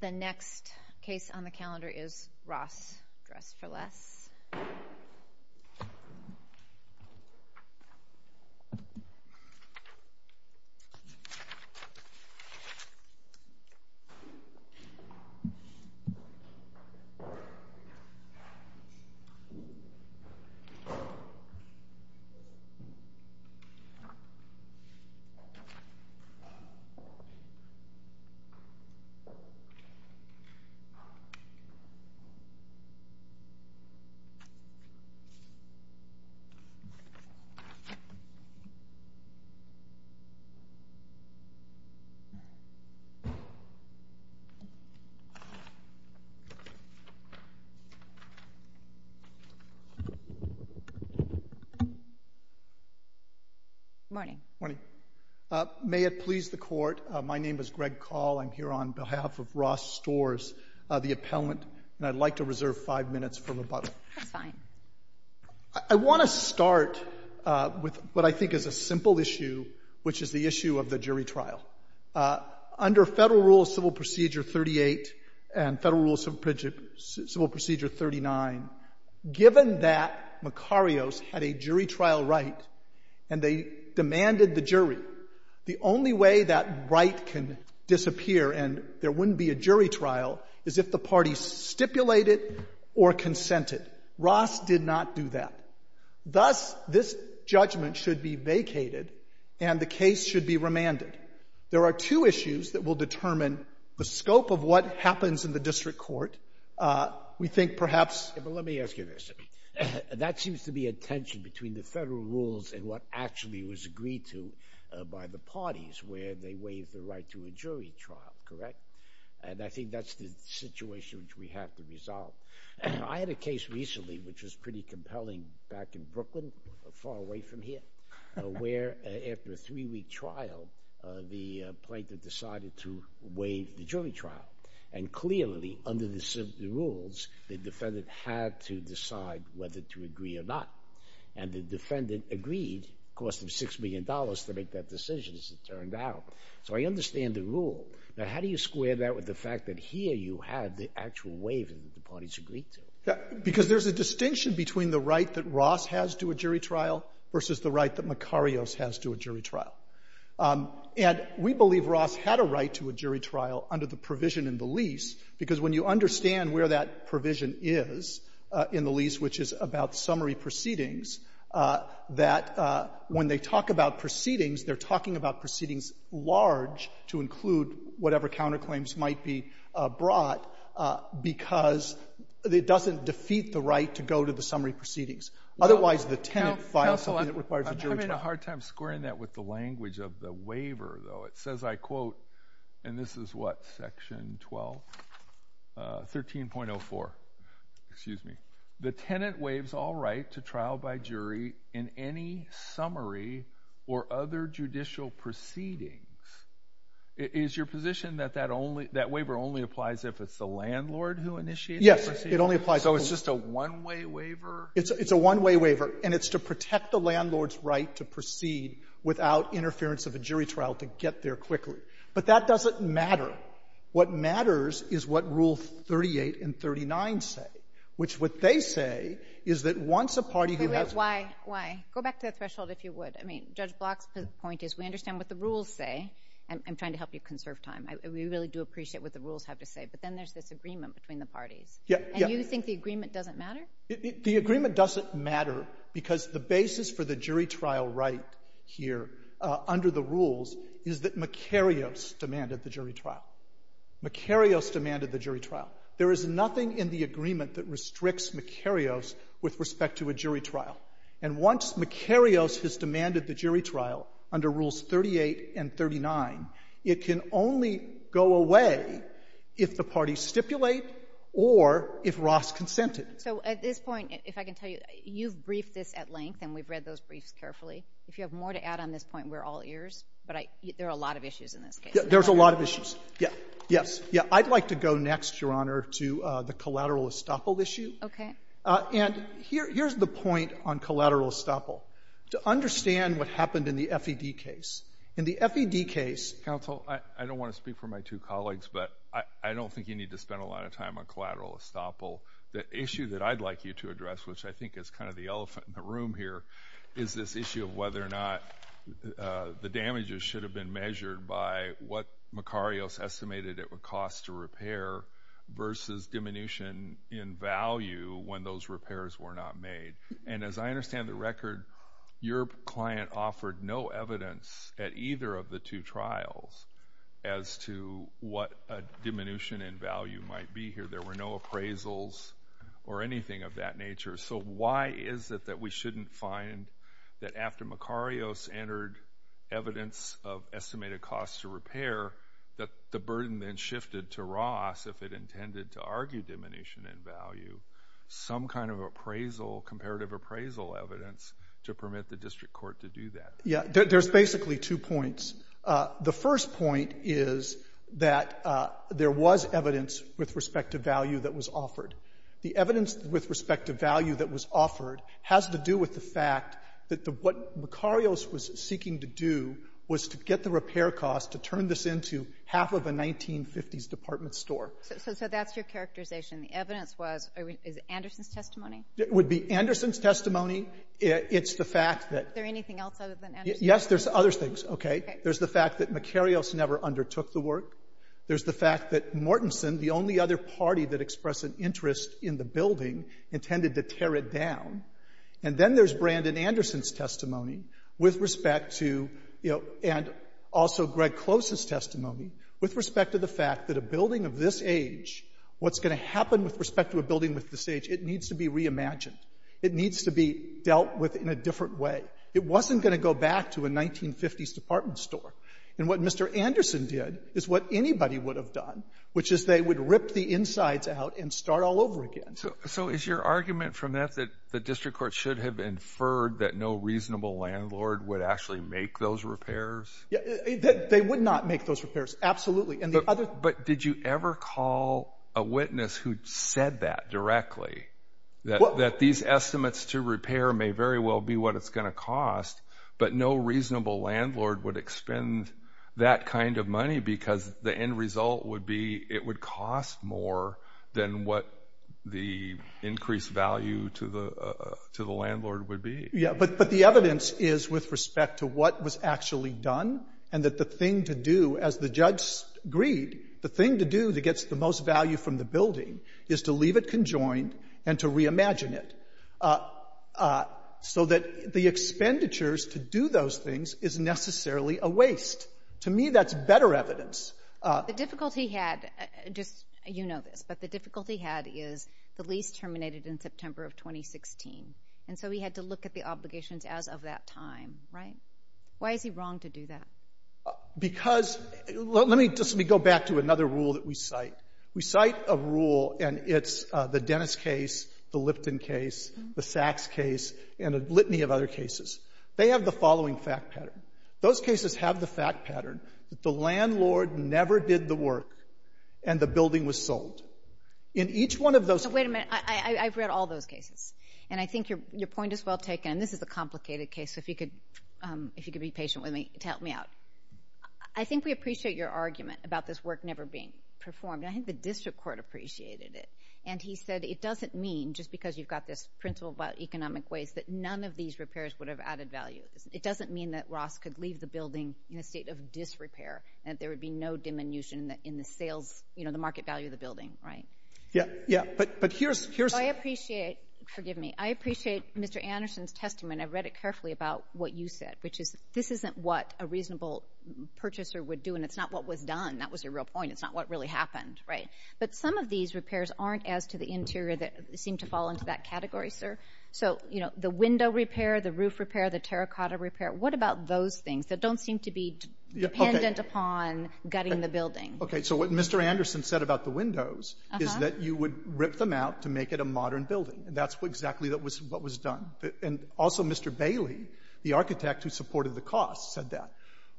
The next case on the calendar is Ross Dress For Less. Good morning. May it please the Court. My name is Greg Call. I'm here on behalf of Ross Storrs, the appellant, and I'd like to reserve five minutes for rebuttal. That's fine. I want to start with what I think is a simple issue, which is the issue of the jury trial. Under Federal Rule of Civil Procedure 38 and Federal Rule of Civil Procedure 39, given that Makarios had a jury trial right and they demanded the jury, the only way that right can disappear and there wouldn't be a jury trial is if the parties stipulate it or consent it. Ross did not do that. Thus, this judgment should be vacated and the case should be remanded. There are two issues that will determine the scope of what happens in the district court. We think perhaps — But let me ask you this. That seems to be a tension between the Federal rules and what actually was agreed to by the jury trial, correct? And I think that's the situation which we have to resolve. I had a case recently which was pretty compelling back in Brooklyn, far away from here, where after a three-week trial, the plaintiff decided to waive the jury trial. And clearly, under the rules, the defendant had to decide whether to agree or not. And the defendant agreed, cost him $6 million to make that decision, as it turned out. So I understand the rule. Now, how do you square that with the fact that here you had the actual waive that the parties agreed to? Because there's a distinction between the right that Ross has to a jury trial versus the right that Macarios has to a jury trial. And we believe Ross had a right to a jury trial under the provision in the lease, because when you understand where that provision is in the lease, which is about summary proceedings, that when they talk about proceedings, they're talking about proceedings large to include whatever counterclaims might be brought, because it doesn't defeat the right to go to the summary proceedings. Otherwise, the tenant files something that requires a jury trial. I'm having a hard time squaring that with the language of the waiver, though. It says, I quote, and this is what, section 12, 13.04, excuse me, the tenant waives all right to trial by jury in any summary or other judicial proceedings. Is your position that that only, that waiver only applies if it's the landlord who initiated the proceedings? Yes, it only applies. So it's just a one-way waiver? It's a one-way waiver, and it's to protect the landlord's right to proceed without interference of a jury trial to get there quickly. But that doesn't matter. What matters is what Rule 38 and 39 say, which what they say is that once a party who has a... Why? Why? Go back to the threshold, if you would. I mean, Judge Block's point is we understand what the rules say, and I'm trying to help you conserve time. We really do appreciate what the rules have to say, but then there's this agreement between the parties. Yeah. And you think the agreement doesn't matter? The agreement doesn't matter because the basis for the jury trial right here under the rules is that Macarius demanded the jury trial. Macarius demanded the jury trial. There is nothing in the agreement that restricts Macarius with respect to a jury trial. And once Macarius has demanded the jury trial under Rules 38 and 39, it can only go away if the parties stipulate or if Ross consented. So at this point, if I can tell you, you've briefed this at length, and we've read those briefs carefully. If you have more to add on this point, we're all ears, but there are a lot of issues in this case. There's a lot of issues. Yeah. Yes. Yeah. I'd like to go next, Your Honor, to the collateral estoppel issue. Okay. And here's the point on collateral estoppel. To understand what happened in the FED case. In the FED case... Counsel, I don't want to speak for my two colleagues, but I don't think you need to spend a lot of time on collateral estoppel. The issue that I'd like you to address, which I think is kind of the elephant in the room here, is this issue of whether or not the damages should have been measured by what Macarios estimated it would cost to repair versus diminution in value when those repairs were not made. And as I understand the record, your client offered no evidence at either of the two trials as to what a diminution in value might be here. There were no appraisals or anything of that nature. So why is it that we shouldn't find that after Macarios entered evidence of estimated cost to repair, that the burden then shifted to Ross if it intended to argue diminution in value, some kind of appraisal, comparative appraisal evidence to permit the district court to do that? Yeah. There's basically two points. The first point is that there was evidence with respect to value that was offered. The evidence with respect to value that was offered has to do with the fact that what Macarios was seeking to do was to get the repair cost to turn this into half of a 1950s department store. So that's your characterization. The evidence was, is it Anderson's testimony? It would be Anderson's testimony. It's the fact that— Is there anything else other than Anderson's testimony? Yes, there's other things. Okay. There's the fact that Macarios never undertook the work. There's the fact that Mortenson, the only other party that expressed an interest in the building, intended to tear it down. And then there's Brandon Anderson's testimony with respect to, you know, and also Greg Close's testimony with respect to the fact that a building of this age, what's going to happen with respect to a building of this age, it needs to be reimagined. It needs to be dealt with in a different way. It wasn't going to go back to a 1950s department store. And what Mr. Anderson did is what anybody would have done, which is they would rip the insides out and start all over again. So is your argument from that that the district court should have inferred that no reasonable landlord would actually make those repairs? They would not make those repairs, absolutely. And the other— But did you ever call a witness who said that directly, that these estimates to repair may very well be what it's going to cost, but no reasonable landlord would expend that kind of money because the end result would be it would cost more than what the increased value to the landlord would be? Yeah, but the evidence is with respect to what was actually done and that the thing to do, as the judge agreed, the thing to do that gets the most value from the building is to leave it conjoined and to reimagine it so that the expenditures to do those things is necessarily a waste. To me, that's better evidence. The difficulty had—just, you know this—but the difficulty had is the lease terminated in September of 2016, and so he had to look at the obligations as of that time, right? Why is he wrong to do that? Because—let me just—let me go back to another rule that we cite. We cite a rule, and it's the Dennis case, the Lipton case, the Sachs case, and a litany of other cases. They have the following fact pattern. Those cases have the fact pattern that the landlord never did the work and the building was sold. In each one of those— Wait a minute. I've read all those cases, and I think your point is well taken, and this is a complicated case, so if you could be patient with me to help me out. I think we appreciate your argument about this work never being performed. I think the district court appreciated it, and he said it doesn't mean, just because you've got this principle about economic waste, that none of these repairs would have added value. It doesn't mean that Ross could leave the building in a state of disrepair, that there would be no diminution in the sales—you know, the market value of the building, right? Yeah, yeah, but here's— I appreciate—forgive me—I appreciate Mr. Anderson's testimony, and I read it carefully about what you said, which is this isn't what a reasonable purchaser would do, and it's not what was done. That was your real point. It's not what really happened, right? But some of these repairs aren't as to the interior that seem to fall into that category, sir. So, you know, the window repair, the roof repair, the terracotta repair, what about those things that don't seem to be dependent upon gutting the building? Okay, so what Mr. Anderson said about the windows is that you would rip them out to make it a modern building, and that's exactly what was done. And also Mr. Bailey, the architect who supported the cost, said that.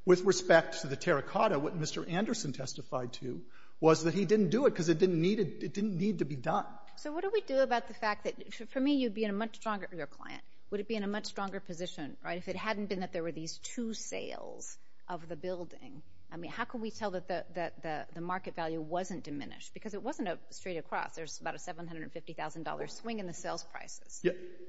With respect to the terracotta, what Mr. Anderson testified to was that he didn't do it because it didn't need to be done. So what do we do about the fact that—for me, you'd be in a much stronger—your client—would it be in a much stronger position, right, if it hadn't been that there were these two sales of the building? I mean, how can we tell that the market value wasn't diminished? Because it wasn't a straight across. There's about a $750,000 swing in the sales prices.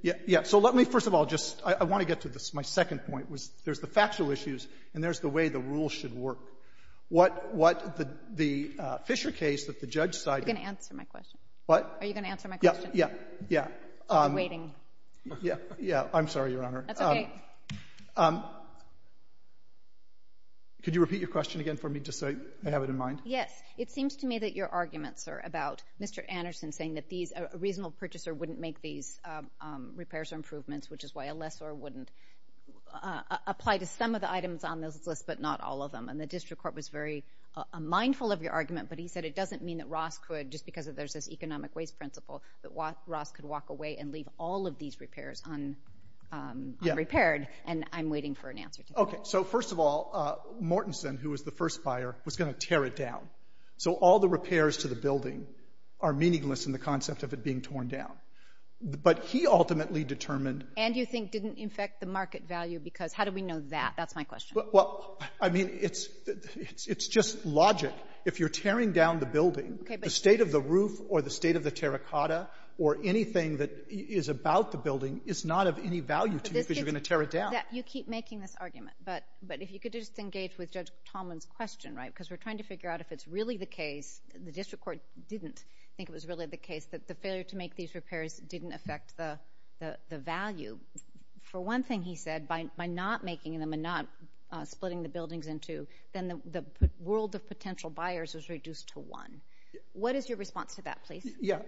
Yeah, yeah. So let me—first of all, just—I want to get to my second point, was there's the factual issues, and there's the way the rules should work. What the Fisher case that the judge cited— Are you going to answer my question? What? Are you going to answer my question? Yeah, yeah, yeah. I'll be waiting. Yeah, yeah. I'm sorry, Your Honor. That's okay. Could you repeat your question again for me, just so I have it in mind? Yes. It seems to me that your arguments are about Mr. Anderson saying that a reasonable purchaser wouldn't make these repairs or improvements, which is why a lessor wouldn't apply to some of the items on this list, but not all of them. And the district court was very mindful of your argument, but he said it doesn't mean that Ross could, just because there's this economic waste principle, that Ross could walk away and leave all of these repairs unrepaired, and I'm waiting for an answer to that. Okay. So first of all, Mortenson, who was the first buyer, was going to tear it down. So all the repairs to the building are meaningless in the concept of it being torn down. But he ultimately determined— And you think didn't affect the market value, because how do we know that? That's my question. Well, I mean, it's just logic. If you're tearing down the building, the state of the roof or the state of the terracotta or anything that is about the building is not of any value to you because you're going to tear it down. You keep making this argument, but if you could just engage with Judge Tomlin's question, right, because we're trying to figure out if it's really the case—the district court didn't think it was really the case—that the failure to make these repairs didn't affect the value. For one thing, he said, by not making them and not splitting the buildings in two, then the world of potential buyers was reduced to one. What is your response to that, please? Yeah.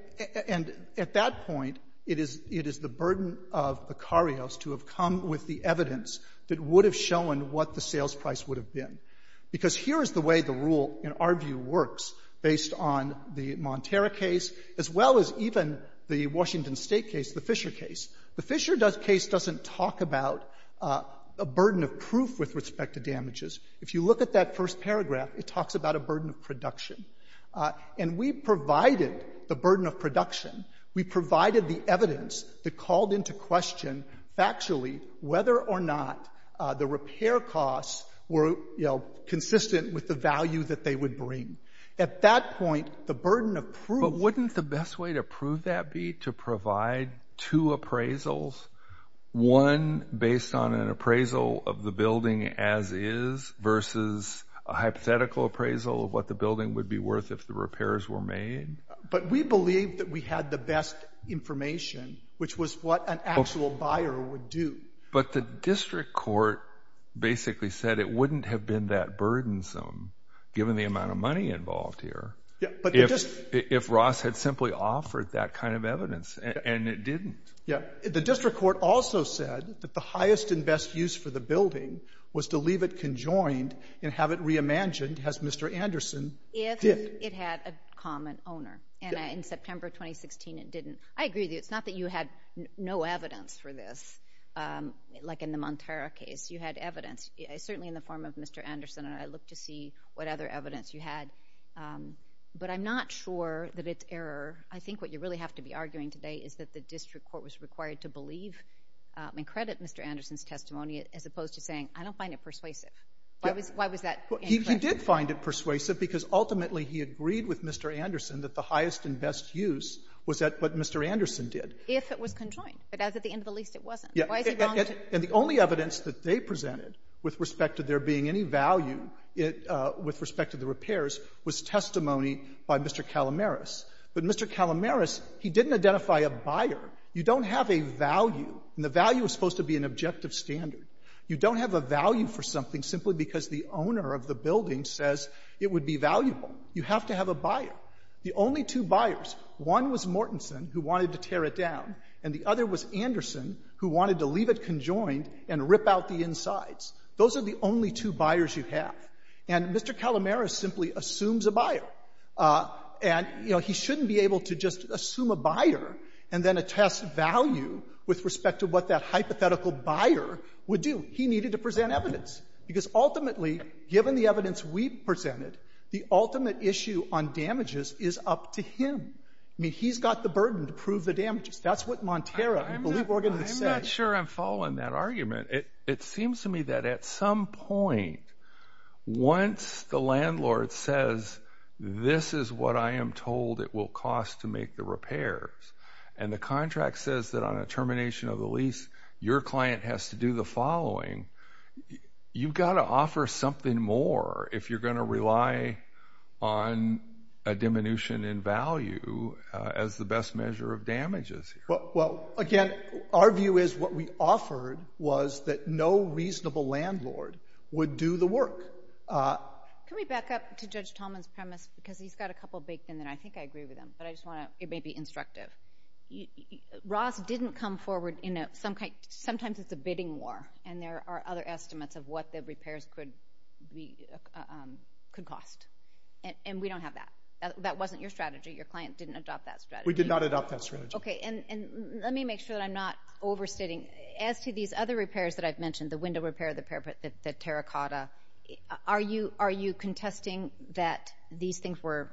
And at that point, it is the burden of Beccarios to have come with the evidence that would have shown what the sales price would have been. Because here is the way the rule, in our view, works based on the Montero case as well as even the Washington State case, the Fisher case. The Fisher case doesn't talk about a burden of proof with respect to damages. If you look at that first paragraph, it talks about a burden of production. And we provided the burden of production. We provided the evidence that called into question factually whether or not the repair costs were, you know, consistent with the value that they would bring. At that point, the burden of proof— We agreed to provide two appraisals, one based on an appraisal of the building as is versus a hypothetical appraisal of what the building would be worth if the repairs were made. But we believed that we had the best information, which was what an actual buyer would do. But the district court basically said it wouldn't have been that burdensome, given the amount of money involved here. If Ross had simply offered that kind of evidence, and it didn't. The district court also said that the highest and best use for the building was to leave it conjoined and have it reimagined, as Mr. Anderson did. It had a common owner, and in September 2016, it didn't. I agree with you. It's not that you had no evidence for this, like in the Montero case. You had evidence, certainly in the form of Mr. Anderson, and I looked to see what other But I'm not sure that it's error. I think what you really have to be arguing today is that the district court was required to believe and credit Mr. Anderson's testimony, as opposed to saying, I don't find it persuasive. Why was that? He did find it persuasive, because ultimately he agreed with Mr. Anderson that the highest and best use was what Mr. Anderson did. If it was conjoined. But as at the end of the lease, it wasn't. And the only evidence that they presented with respect to there being any value with respect to the repairs was testimony by Mr. Calamaris. But Mr. Calamaris, he didn't identify a buyer. You don't have a value, and the value is supposed to be an objective standard. You don't have a value for something simply because the owner of the building says it would be valuable. You have to have a buyer. The only two buyers, one was Mortenson, who wanted to tear it down, and the other was Anderson, who wanted to leave it conjoined and rip out the insides. Those are the only two buyers you have. And Mr. Calamaris simply assumes a buyer. And, you know, he shouldn't be able to just assume a buyer and then attest value with respect to what that hypothetical buyer would do. He needed to present evidence. Because ultimately, given the evidence we presented, the ultimate issue on damages is up to him. I mean, he's got the burden to prove the damages. That's what Montero and the legal organists said. I'm not sure I'm following that argument. It seems to me that at some point, once the landlord says, this is what I am told it will cost to make the repairs, and the contract says that on a termination of the lease, your client has to do the following, you've got to offer something more if you're going to rely on a diminution in value as the best measure of damages. Well, again, our view is what we offered was that no reasonable landlord would do the work. Can we back up to Judge Tolman's premise? Because he's got a couple baked in there. I think I agree with him. But I just want to, it may be instructive. Ross didn't come forward in a, sometimes it's a bidding war. And there are other estimates of what the repairs could cost. And we don't have that. That wasn't your strategy. Your client didn't adopt that strategy. We did not adopt that strategy. OK. And let me make sure that I'm not overstating. As to these other repairs that I've mentioned, the window repair, the terra cotta, are you contesting that these things were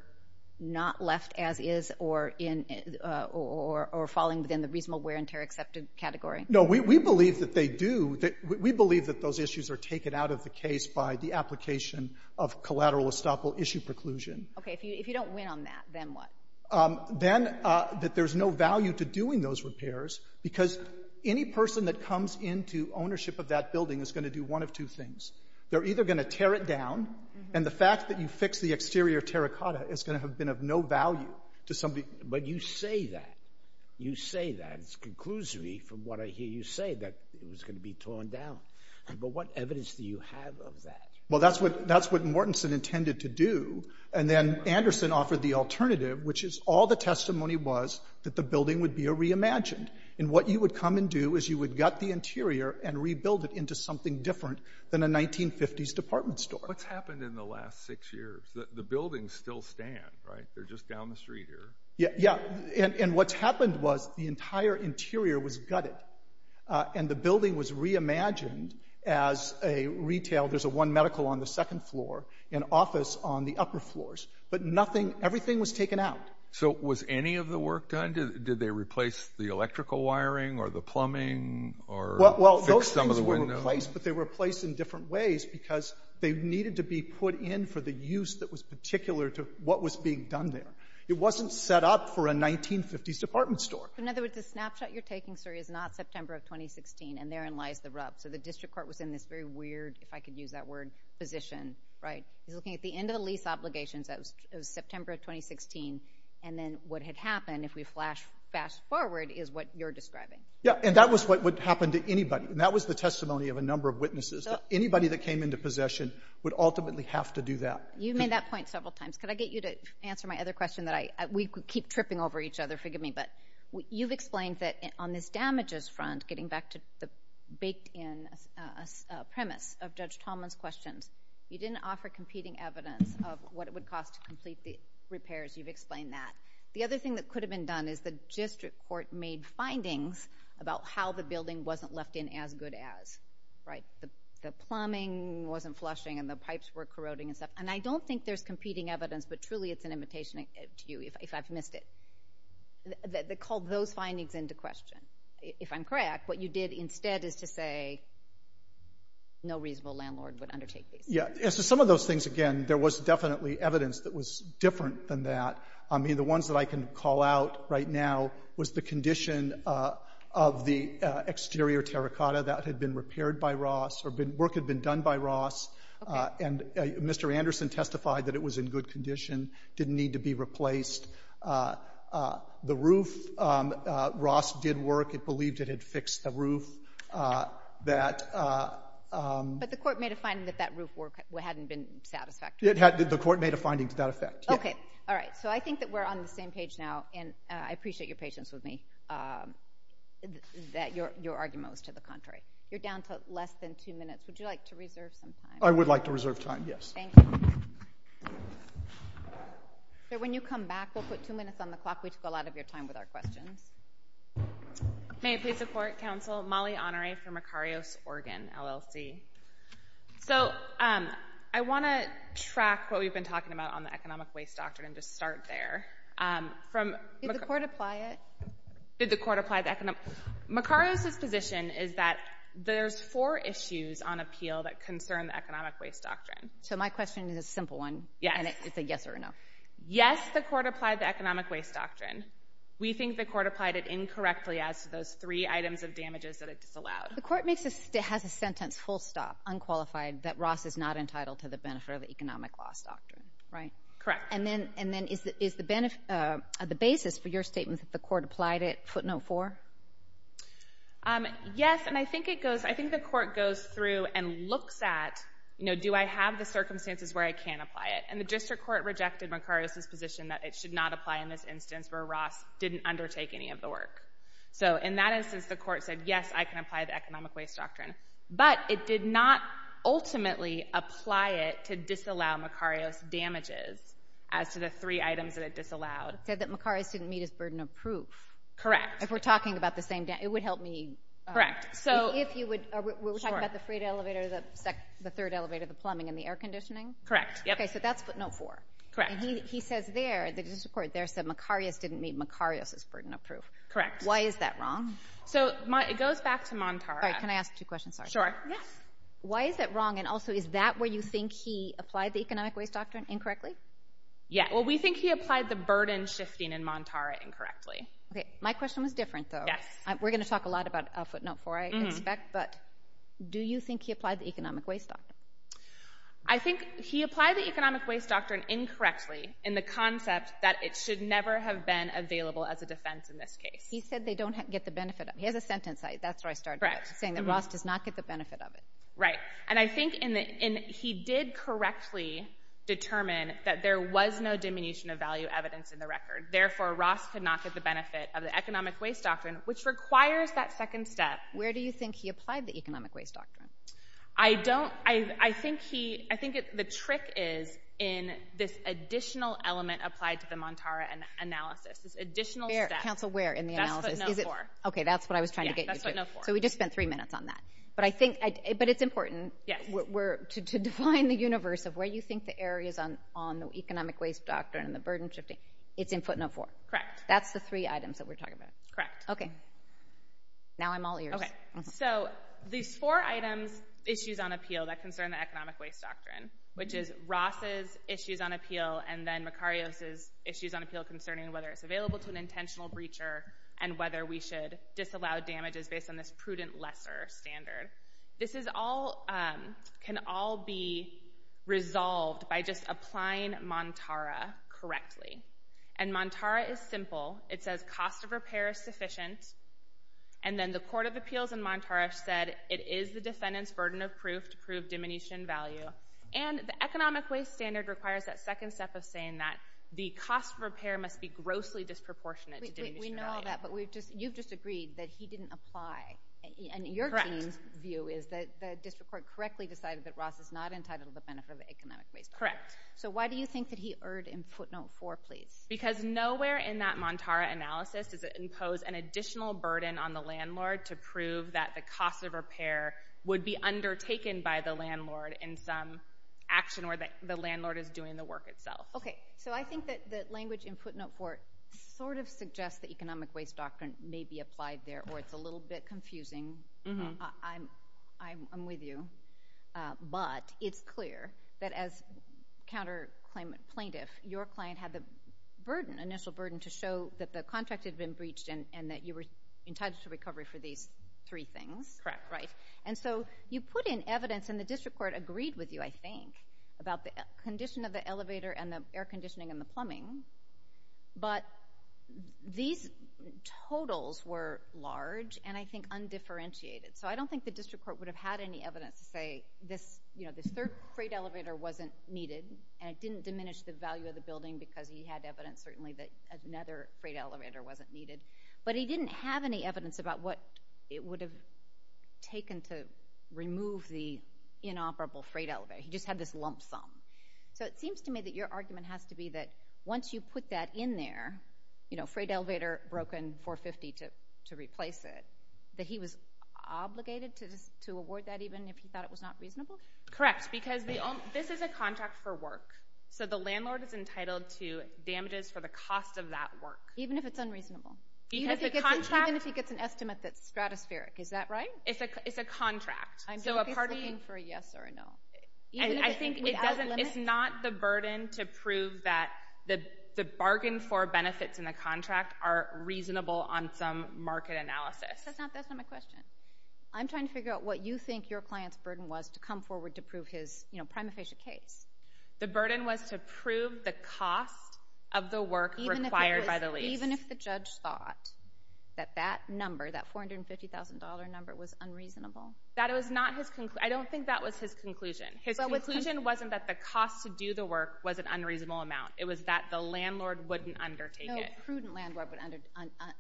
not left as is or falling within the reasonable wear and tear accepted category? No, we believe that they do. We believe that those issues are taken out of the case by the application of collateral estoppel issue preclusion. OK, if you don't win on that, then what? Then that there's no value to doing those repairs, because any person that comes into ownership of that building is going to do one of two things. They're either going to tear it down, and the fact that you fixed the exterior terra cotta is going to have been of no value to somebody. But you say that. You say that. It's conclusory from what I hear you say, that it was going to be torn down. But what evidence do you have of that? Well, that's what Mortensen intended to do. And then Anderson offered the alternative, which is all the testimony was that the building would be reimagined. And what you would come and do is you would gut the interior and rebuild it into something different than a 1950s department store. What's happened in the last six years? The buildings still stand, right? They're just down the street here. Yeah, and what's happened was the entire interior was gutted, and the building was reimagined as a retail. There's one medical on the second floor, an office on the upper floors. But nothing, everything was taken out. So was any of the work done? Did they replace the electrical wiring or the plumbing or fix some of the windows? Well, those things were replaced, but they were replaced in different ways because they needed to be put in for the use that was particular to what was being done there. It wasn't set up for a 1950s department store. In other words, the snapshot you're taking, sir, is not September of 2016, and therein lies the rub. So the district court was in this very weird, if I could use that word, position, right? He's looking at the end of the lease obligations. That was September of 2016. And then what had happened, if we flash forward, is what you're describing. Yeah, and that was what would happen to anybody, and that was the testimony of a number of witnesses. Anybody that came into possession would ultimately have to do that. You made that point several times. Could I get you to answer my other question that I... We keep tripping over each other. Forgive me, but you've explained that on this damages front, getting back to the leaked-in premise of Judge Tallman's questions. You didn't offer competing evidence of what it would cost to complete the repairs. You've explained that. The other thing that could have been done is the district court made findings about how the building wasn't left in as good as, right? The plumbing wasn't flushing, and the pipes were corroding and stuff. And I don't think there's competing evidence, but truly it's an imitation to you, if I've missed it, that called those findings into question. If I'm correct, what you did instead is to say no reasonable landlord would undertake these repairs. Yeah. As to some of those things, again, there was definitely evidence that was different than that. I mean, the ones that I can call out right now was the condition of the exterior terracotta that had been repaired by Ross, or work had been done by Ross. Okay. And Mr. Anderson testified that it was in good condition, didn't need to be replaced. The roof, Ross did work. It believed it had fixed the roof. But the court made a finding that that roof hadn't been satisfactory. The court made a finding to that effect, yeah. Okay. All right. So I think that we're on the same page now, and I appreciate your patience with me, that your argument was to the contrary. You're down to less than two minutes. Would you like to reserve some time? I would like to reserve time, yes. Thank you. Sir, when you come back, we'll put two minutes on the clock. We took a lot of your time with our questions. May it please the Court, Counsel, Molly Honore from Makarios, Oregon, LLC. So I want to track what we've been talking about on the economic waste doctrine, and just start there. Did the court apply it? Did the court apply the economic... Makarios' position is that there's four issues on appeal that concern the economic waste doctrine. So my question is a simple one, and it's a yes or a no. Yes, the court applied the economic waste doctrine. We think the court applied it incorrectly as to those three items of damages that it disallowed. The court has a sentence, full stop, unqualified, that Ross is not entitled to the benefit of the economic loss doctrine, right? Correct. And then is the basis for your statement that the court applied it footnote four? Yes, and I think the court goes through and looks at, do I have the circumstances where I can apply it? And the district court rejected Makarios' position that it should not apply in this case, because the court said, yes, I can apply the economic waste doctrine. But it did not ultimately apply it to disallow Makarios' damages as to the three items that it disallowed. It said that Makarios didn't meet his burden of proof. Correct. If we're talking about the same... It would help me... Correct. So... If you would... Sure. Are we talking about the freight elevator, the third elevator, the plumbing, and the air conditioning? Correct. Yep. Okay, so that's footnote four. Correct. And he says there, the district court there said Makarios didn't meet Makarios' burden of proof. Correct. Why is that wrong? So, it goes back to Montara. All right, can I ask two questions? Sorry. Sure. Yes. Why is that wrong? And also, is that where you think he applied the economic waste doctrine incorrectly? Yeah. Well, we think he applied the burden shifting in Montara incorrectly. Okay. My question was different, though. Yes. We're going to talk a lot about footnote four, I expect, but do you think he applied the economic waste doctrine? I think he applied the economic waste doctrine incorrectly in the concept that it should never have been available as a defense in this case. He said they don't get the benefit of it. He has a sentence, that's where I started. Correct. Saying that Ross does not get the benefit of it. Right. And I think he did correctly determine that there was no diminution of value evidence in the record. Therefore, Ross could not get the benefit of the economic waste doctrine, which requires that second step. Where do you think he applied the economic waste doctrine? I don't... I think he... I think the trick is in this additional element applied to the Montara analysis, this additional step. Where? Counsel, where in the analysis? That's footnote four. Okay, that's what I was trying to get you to. Yeah, that's footnote four. So, we just spent three minutes on that. But I think... But it's important to define the universe of where you think the areas on the economic waste doctrine and the burden shifting, it's in footnote four. Correct. That's the three items that we're talking about. Correct. Okay. Now I'm all ears. Okay. So, these four items, issues on appeal that concern the economic waste doctrine, which is Ross' issues on appeal and then Makarios' issues on appeal concerning whether it's available to an intentional breacher and whether we should disallow damages based on this prudent lesser standard. This is all... Can all be resolved by just applying Montara correctly. And Montara is simple. It says cost of repair is sufficient. And then the court of appeals in Montara said it is the defendant's burden of proof to prove diminution value. And the economic waste standard requires that second step of saying that the cost of repair must be grossly disproportionate to diminution value. We know that, but you've just agreed that he didn't apply. And your team's view is that the district court correctly decided that Ross is not entitled to benefit of the economic waste doctrine. Correct. So, why do you think that he erred in footnote four, please? Because nowhere in that Montara analysis does it impose an additional burden on the landlord to prove that the cost of repair would be undertaken by the landlord in some action where the landlord is doing the work itself. Okay. So, I think that the language in footnote four sort of suggests that economic waste doctrine may be applied there, or it's a little bit confusing. I'm with you. But it's clear that as counter plaintiff, your client had the initial burden to show that the contract had been breached and that you were entitled to recovery for these three things. Correct. Right. And so, you put in evidence, and the district court agreed with you, I think, about the condition of the elevator and the air conditioning and the plumbing, but these totals were large and I think undifferentiated. So, I don't think the district court would have had any evidence to say this third freight elevator wasn't needed, and it didn't diminish the value of the building because he had evidence, certainly, that another freight elevator wasn't needed. But he didn't have any evidence about what it would have taken to remove the inoperable freight elevator. He just had this lump sum. So, it seems to me that your argument has to be that once you put that in there, freight elevator broken 450 to replace it, that he was obligated to award that even if he thought it was not reasonable? Correct. Because this is a contract for work, so the landlord is entitled to damages for the cost of that work. Even if it's unreasonable. Even if he gets an estimate that's stratospheric. Is that right? It's a contract. So, a party... I'm sure he's looking for a yes or a no. And I think it's not the burden to prove that the bargain for benefits in the contract are reasonable on some market analysis. That's not my question. I'm trying to figure out what you think your client's burden was to come forward to prove his prima facie case. The burden was to prove the cost of the work required by the lease. Even if the judge thought that that number, that $450,000 number, was unreasonable? That was not his... I don't think that was his conclusion. His conclusion wasn't that the cost to do the work was an unreasonable amount. It was that the landlord wouldn't undertake it. No prudent landlord would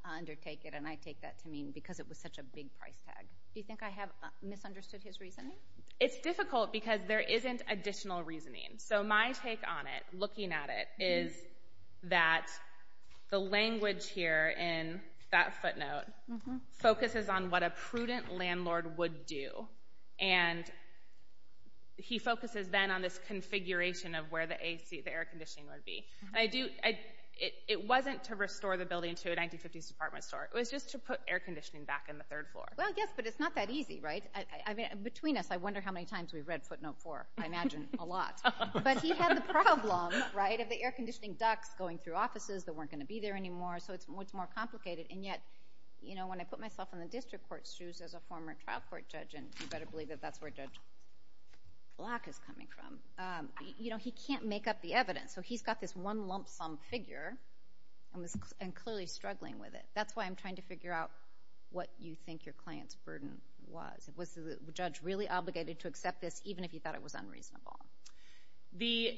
undertake it, and I take that to mean because it was such a big price tag. Do you think I have misunderstood his reasoning? It's difficult because there isn't additional reasoning. So my take on it, looking at it, is that the language here in that footnote focuses on what a prudent landlord would do. He focuses then on this configuration of where the air conditioning would be. It wasn't to restore the building to a 1950s department store. It was just to put air conditioning back in the third floor. Well, yes, but it's not that easy, right? Between us, I wonder how many times we've read footnote four. I imagine a lot. But he had the problem, right, of the air conditioning ducts going through offices that weren't going to be there anymore, so it's much more complicated, and yet when I put myself in the district court's shoes as a former trial court judge, and you better believe that that's where Judge Black is coming from, he can't make up the evidence. So he's got this one lump sum figure and clearly struggling with it. That's why I'm trying to figure out what you think your client's burden was. Was the judge really obligated to accept this even if he thought it was unreasonable? The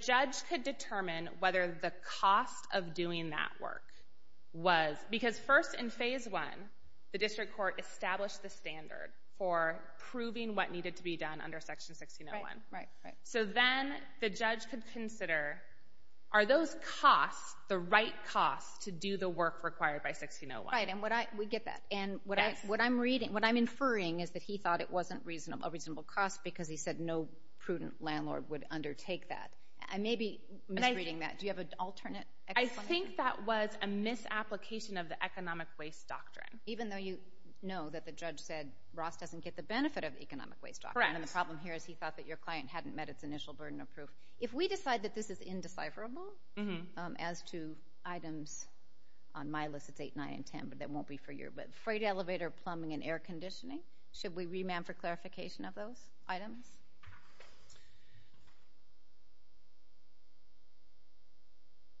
judge could determine whether the cost of doing that work was... because first in phase one, the district court established the standard for proving what needed to be done under Section 1601. Right, right, right. So then the judge could consider, are those costs the right costs to do the work required by 1601? Right, and we get that. Yes. And what I'm inferring is that he thought it wasn't a reasonable cost because he said no prudent landlord would undertake that. I may be misreading that. Do you have an alternate explanation? I think that was a misapplication of the economic waste doctrine. Even though you know that the judge said Ross doesn't get the benefit of the economic waste doctrine. Correct. And the problem here is he thought that your client hadn't met its initial burden of proof. If we decide that this is indecipherable as to items on my list, it's 8, 9, and 10, but that won't be for you, but freight elevator plumbing and air conditioning, should we remand for clarification of those items?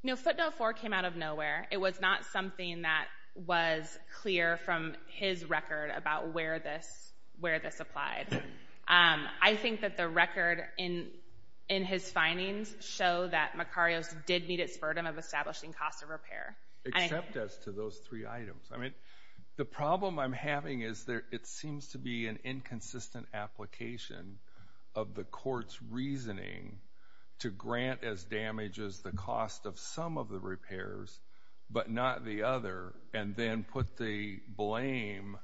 No, footnote 4 came out of nowhere. It was not something that was clear from his record about where this applied. I think that the record in his findings show that Macarios did meet its burden of establishing cost of repair. Except as to those three items, I mean the problem I'm having is that it seems to be an inconsistent application of the court's reasoning to grant as damages the cost of some of the repairs, but not the other, and then put the blame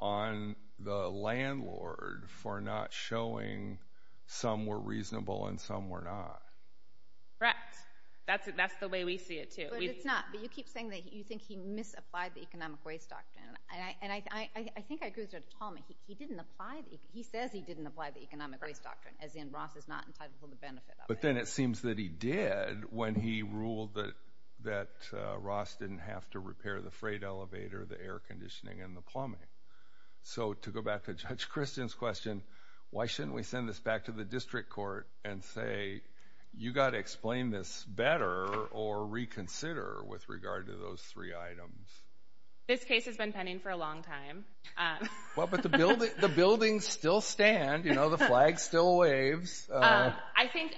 on the landlord for not showing some were reasonable and some were not. Correct. That's the way we see it, too. But it's not. But you keep saying that you think he misapplied the economic waste doctrine, and I think I He says he didn't apply the economic waste doctrine, as in Ross is not entitled for the benefit of it. But then it seems that he did when he ruled that Ross didn't have to repair the freight elevator, the air conditioning, and the plumbing. So to go back to Judge Christian's question, why shouldn't we send this back to the district court and say, you've got to explain this better or reconsider with regard to those three items? This case has been pending for a long time. Well, but the buildings still stand, you know, the flag still waves. I think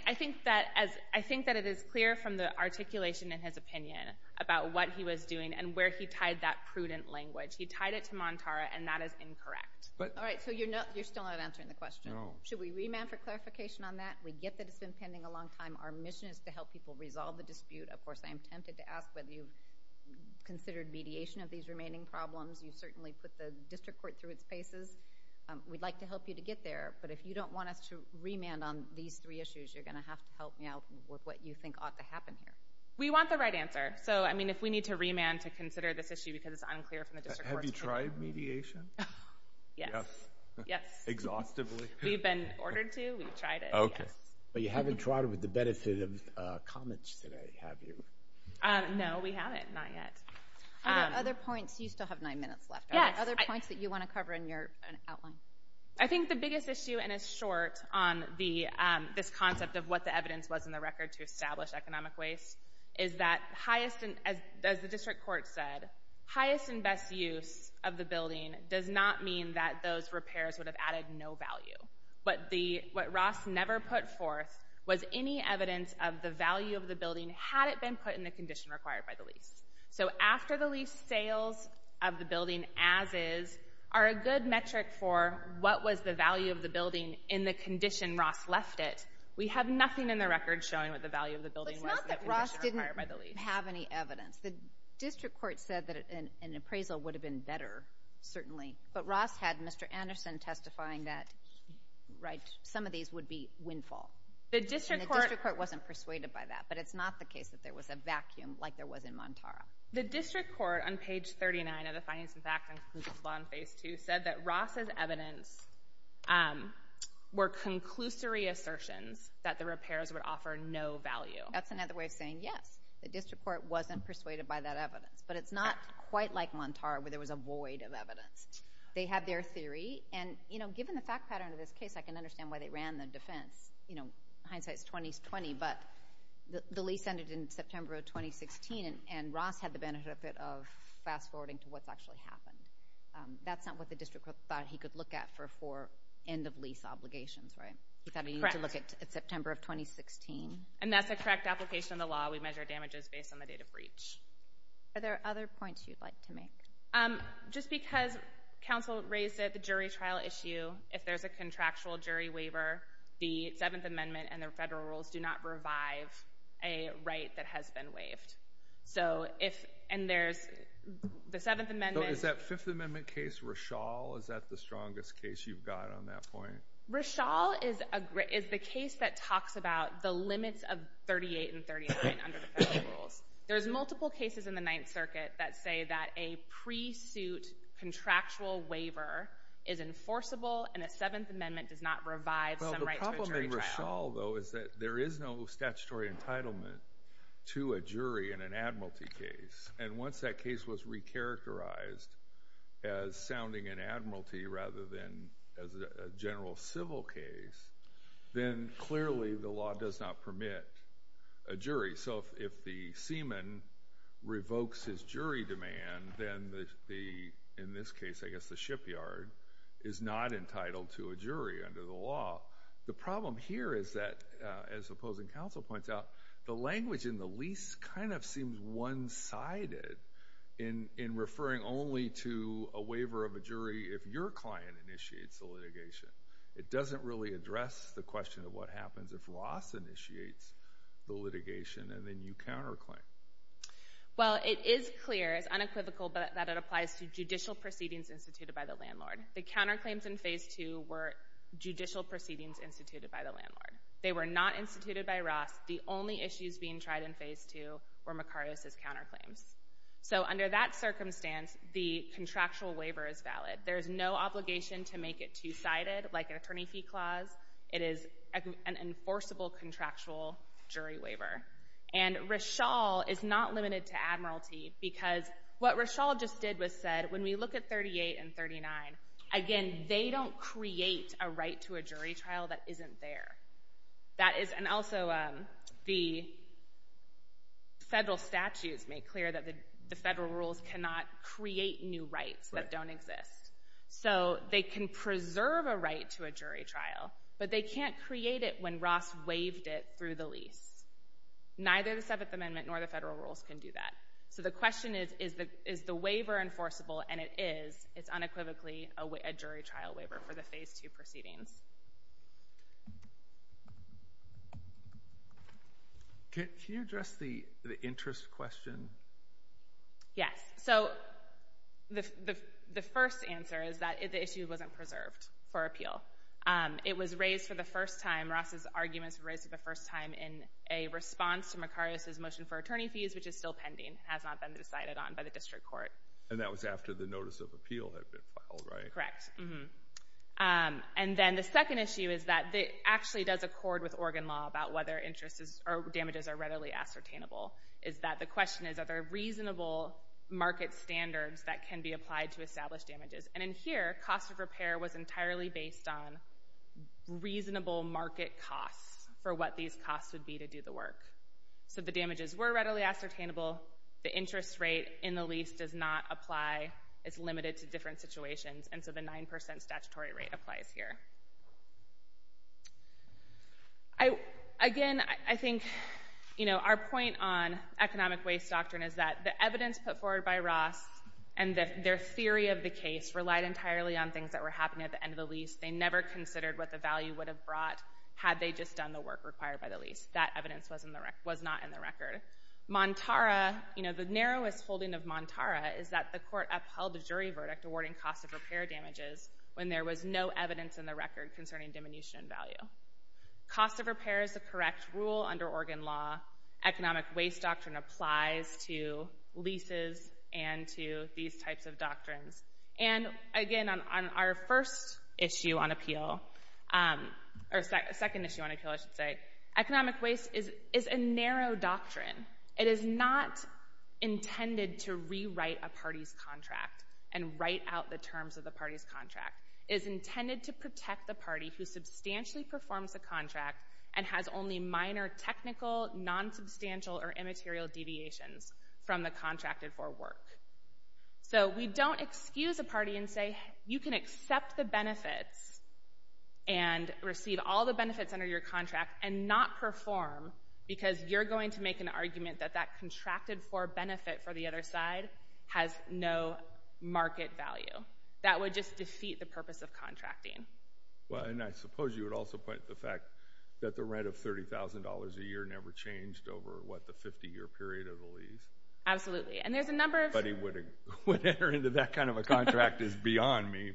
that it is clear from the articulation in his opinion about what he was doing and where he tied that prudent language. He tied it to Montara, and that is incorrect. All right, so you're still not answering the question. Should we remand for clarification on that? We get that it's been pending a long time. Our mission is to help people resolve the dispute. Of course, I am tempted to ask whether you've considered mediation of these remaining problems. You've certainly put the district court through its paces. We'd like to help you to get there, but if you don't want us to remand on these three issues, you're going to have to help me out with what you think ought to happen here. We want the right answer. So, I mean, if we need to remand to consider this issue because it's unclear from the district court's point of view. Have you tried mediation? Yes. Yes. Exhaustively? We've been ordered to. We've tried it. Okay. But you haven't tried it with the benefit of comments today, have you? No, we haven't. Not yet. Are there other points? You still have nine minutes left. Are there other points that you want to cover in your outline? I think the biggest issue, and it's short on this concept of what the evidence was in the record to establish economic waste, is that, as the district court said, highest and best use of the building does not mean that those repairs would have added no value. But what Ross never put forth was any evidence of the value of the building had it been put in the condition required by the lease. So, after the lease, sales of the building as is are a good metric for what was the value of the building in the condition Ross left it. We have nothing in the record showing what the value of the building was in the condition But it's not that Ross didn't have any evidence. The district court said that an appraisal would have been better, certainly. But Ross had Mr. Anderson testifying that some of these would be windfall. And the district court wasn't persuaded by that. But it's not the case that there was a vacuum like there was in Montara. The district court on page 39 of the Finances Act and Conclusions Law in Phase 2 said that Ross's evidence were conclusory assertions that the repairs would offer no value. That's another way of saying yes. The district court wasn't persuaded by that evidence. But it's not quite like Montara where there was a void of evidence. They have their theory. And, you know, given the fact pattern of this case, I can understand why they ran the defense. You know, hindsight is 20-20. But the lease ended in September of 2016. And Ross had the benefit of fast-forwarding to what's actually happened. That's not what the district court thought he could look at for end-of-lease obligations, right? He thought he needed to look at September of 2016. And that's a correct application of the law. We measure damages based on the date of breach. Are there other points you'd like to make? Just because counsel raised it, the jury trial issue, if there's a contractual jury waiver, the Seventh Amendment and the federal rules do not revive a right that has been waived. So if, and there's the Seventh Amendment. So is that Fifth Amendment case Rishal? Is that the strongest case you've got on that point? Rishal is the case that talks about the limits of 38 and 39 under the federal rules. There's multiple cases in the Ninth Circuit that say that a pre-suit contractual waiver is enforceable and a Seventh Amendment does not revive some right to a jury trial. Well, the problem in Rishal, though, is that there is no statutory entitlement to a jury in an admiralty case. And once that case was re-characterized as sounding an admiralty rather than a general civil case, then clearly the law does not permit a jury. So if the seaman revokes his jury demand, then the, in this case, I guess the shipyard, is not entitled to a jury under the law. The problem here is that, as opposing counsel points out, the language in the lease kind of seems one-sided in referring only to a waiver of a jury if your client initiates the litigation. It doesn't really address the question of what happens if Ross initiates the litigation and then you counterclaim. Well, it is clear, it's unequivocal, that it applies to judicial proceedings instituted by the landlord. The counterclaims in Phase 2 were judicial proceedings instituted by the landlord. They were not instituted by Ross. The only issues being tried in Phase 2 were McCarty's counterclaims. There is no obligation to make it two-sided, like an attorney fee clause. It is an enforceable contractual jury waiver. And Rishal is not limited to admiralty because what Rishal just did was said, when we look at 38 and 39, again, they don't create a right to a jury trial that isn't there. And also, the federal statutes make clear that the federal rules cannot create new rights that don't exist. So they can preserve a right to a jury trial, but they can't create it when Ross waived it through the lease. Neither the Seventh Amendment nor the federal rules can do that. So the question is, is the waiver enforceable? And it is. It's unequivocally a jury trial waiver for the Phase 2 proceedings. Can you address the interest question? Yes. So the first answer is that the issue wasn't preserved for appeal. It was raised for the first time. Ross's arguments were raised for the first time in a response to McCarty's motion for attorney fees, which is still pending, has not been decided on by the district court. And that was after the notice of appeal had been filed, right? Correct. And then the second issue is that it actually does accord with Oregon law about whether damages are readily ascertainable. The question is, are there reasonable market standards that can be applied to establish damages? And in here, cost of repair was entirely based on reasonable market costs for what these costs would be to do the work. So the damages were readily ascertainable. The interest rate in the lease does not apply. It's limited to different situations, and so the 9% statutory rate applies here. Again, I think, you know, our point on economic waste doctrine is that the evidence put forward by Ross and their theory of the case relied entirely on things that were happening at the end of the lease. They never considered what the value would have brought had they just done the work required by the lease. That evidence was not in the record. Montara, you know, the narrowest holding of Montara is that the court upheld a jury verdict awarding cost of repair damages when there was no evidence in the record concerning diminution in value. Cost of repair is the correct rule under Oregon law. Economic waste doctrine applies to leases and to these types of doctrines. And again, on our first issue on appeal, or second issue on appeal, I should say, economic waste is a narrow doctrine. It is not intended to rewrite a party's contract and write out the terms of the party's contract. It is intended to protect the party who substantially performs the contract and has only minor technical, nonsubstantial, or immaterial deviations from the contracted for work. So we don't excuse a party and say, you can accept the benefits and receive all the benefits under your contract and not perform because you're going to make an argument that that contracted for benefit for the other side has no market value. That would just defeat the purpose of contracting. Well, and I suppose you would also point to the fact that the rent of $30,000 a year never changed over, what, the 50-year period of the lease? Absolutely. And there's a number of— But he would enter into that kind of a contract is beyond me.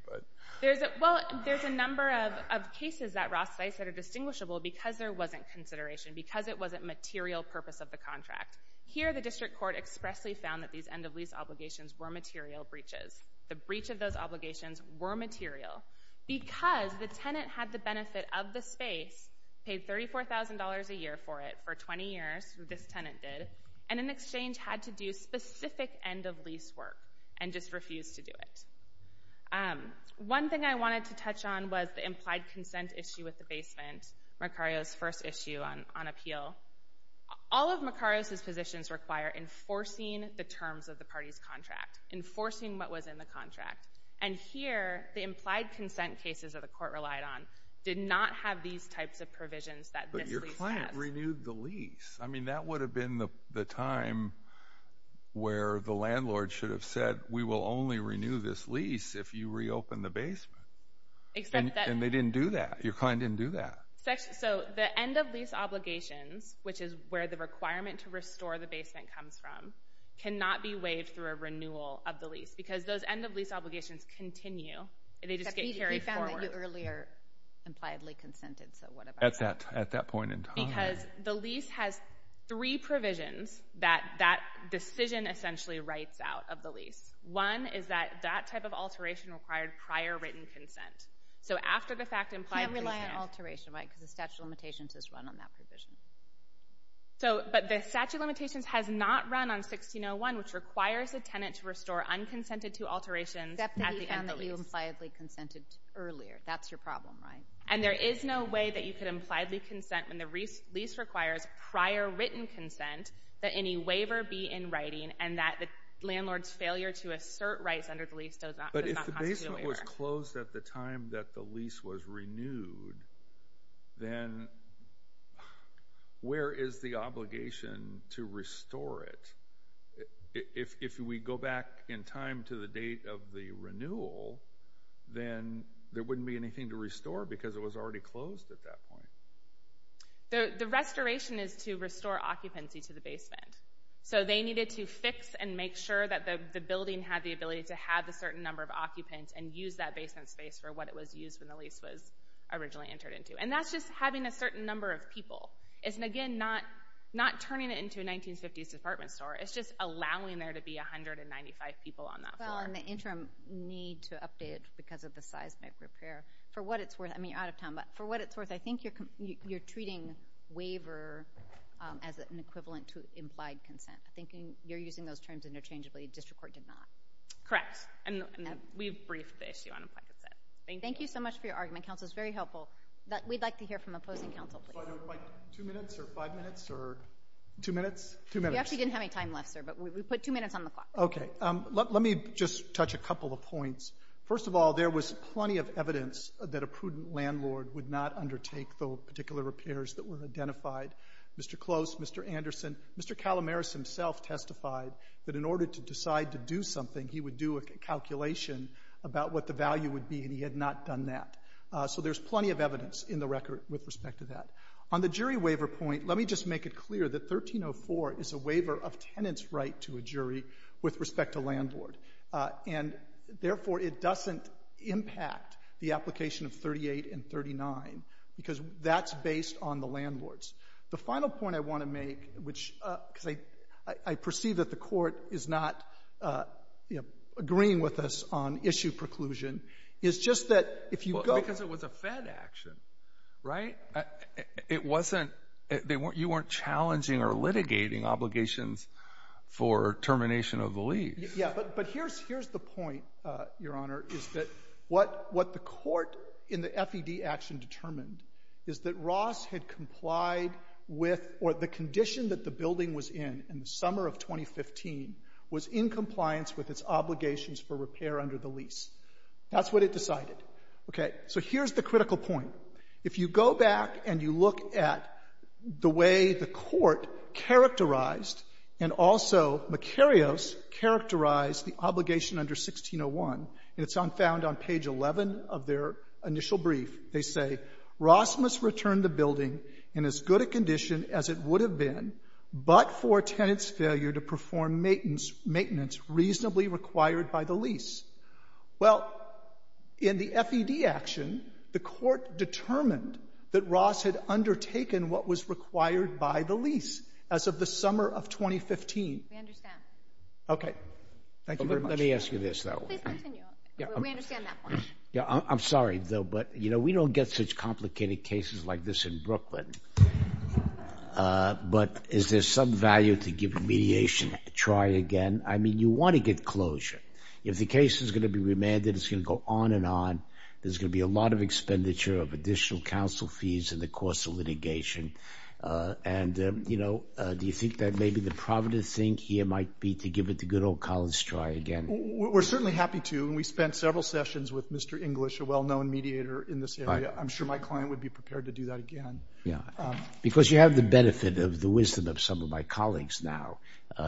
Well, there's a number of cases that Ross cites that are distinguishable because there wasn't consideration, because it wasn't material purpose of the contract. Here, the district court expressly found that these end-of-lease obligations were material breaches. The breach of those obligations were material because the tenant had the benefit of the space, paid $34,000 a year for it for 20 years, this tenant did, and in exchange had to do specific end-of-lease work and just refused to do it. One thing I wanted to touch on was the implied consent issue with the basement, Mercario's first issue on appeal. All of Mercario's positions require enforcing the terms of the party's contract, enforcing what was in the contract. And here, the implied consent cases that the court relied on did not have these types of provisions that this lease has. But your client renewed the lease. I mean, that would have been the time where the landlord should have said, we will only renew this lease if you reopen the basement. And they didn't do that. Your client didn't do that. So the end-of-lease obligations, which is where the requirement to restore the basement comes from, cannot be waived through a renewal of the lease because those end-of-lease obligations continue. They just get carried forward. He found that you earlier impliedly consented, so what about that? At that point in time. Because the lease has three provisions that that decision essentially writes out of the lease. One is that that type of alteration required prior written consent. So after the fact, implied consent. You can't rely on alteration, right, because the statute of limitations has run on that provision. But the statute of limitations has not run on 16-01, which requires the tenant to restore unconsented-to alterations at the end-of-lease. Except that he found that you impliedly consented earlier. That's your problem, right? And there is no way that you could impliedly consent when the lease requires prior written consent that any waiver be in writing and that the landlord's failure to assert rights under the lease does not constitute a waiver. But if the basement was closed at the time that the lease was renewed, then where is the obligation to restore it? If we go back in time to the date of the renewal, then there wouldn't be anything to restore because it was already closed at that point. The restoration is to restore occupancy to the basement. So they needed to fix and make sure that the building had the ability to have a certain number of occupants and use that basement space for what it was used when the lease was originally entered into. And that's just having a certain number of people. It's, again, not turning it into a 1950s department store. It's just allowing there to be 195 people on that floor. Well, and the interim need to update because of the seismic repair. For what it's worth, I mean, you're out of time, but for what it's worth, I think you're treating waiver as an equivalent to implied consent. I think you're using those terms interchangeably. District court did not. Correct. And we've briefed the issue on implied consent. Thank you. Thank you so much for your argument. Counsel, it's very helpful. We'd like to hear from opposing counsel, please. Like two minutes or five minutes or two minutes? Two minutes. We actually didn't have any time left, sir, but we put two minutes on the clock. Okay. Let me just touch a couple of points. First of all, there was plenty of evidence that a prudent landlord would not undertake the particular repairs that were identified. Mr. Close, Mr. Anderson, Mr. Calamaris himself testified that in order to decide to do something, he would do a calculation about what the value would be, and he had not done that. So there's plenty of evidence in the record with respect to that. On the jury waiver point, let me just make it clear that 1304 is a waiver of tenants' right to a jury with respect to landlord. And, therefore, it doesn't impact the application of 38 and 39 because that's based on the landlords. The final point I want to make, which I perceive that the court is not agreeing with us on issue preclusion, is just that if you go— Because it was a Fed action, right? It wasn't—you weren't challenging or litigating obligations for termination of the lease. Yeah, but here's the point, Your Honor, is that what the court in the Fed action determined is that Ross had complied with— or the condition that the building was in in the summer of 2015 was in compliance with its obligations for repair under the lease. That's what it decided. Okay, so here's the critical point. If you go back and you look at the way the court characterized and also Macarius characterized the obligation under 1601, and it's found on page 11 of their initial brief, they say, Ross must return the building in as good a condition as it would have been but for a tenant's failure to perform maintenance reasonably required by the lease. Well, in the Fed action, the court determined that Ross had undertaken what was required by the lease as of the summer of 2015. We understand. Okay. Thank you very much. Let me ask you this, though. Please continue. We understand that point. I'm sorry, though, but we don't get such complicated cases like this in Brooklyn. But is there some value to give mediation a try again? I mean, you want to get closure. If the case is going to be remanded, it's going to go on and on. There's going to be a lot of expenditure of additional counsel fees in the course of litigation. And, you know, do you think that maybe the provident thing here might be to give it a good old college try again? We're certainly happy to. And we spent several sessions with Mr. English, a well-known mediator in this area. I'm sure my client would be prepared to do that again. Yeah, because you have the benefit of the wisdom of some of my colleagues now.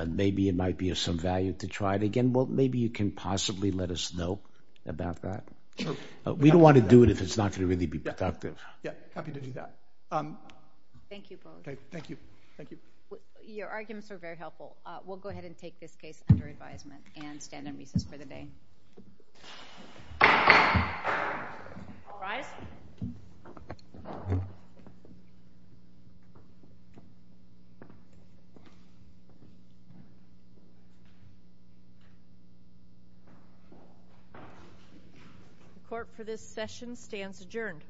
Maybe it might be of some value to try it again. Well, maybe you can possibly let us know about that. We don't want to do it if it's not going to really be productive. Yeah, happy to do that. Thank you both. Thank you. Thank you. Your arguments are very helpful. We'll go ahead and take this case under advisement and stand on recess for the day. All rise. The court for this session stands adjourned.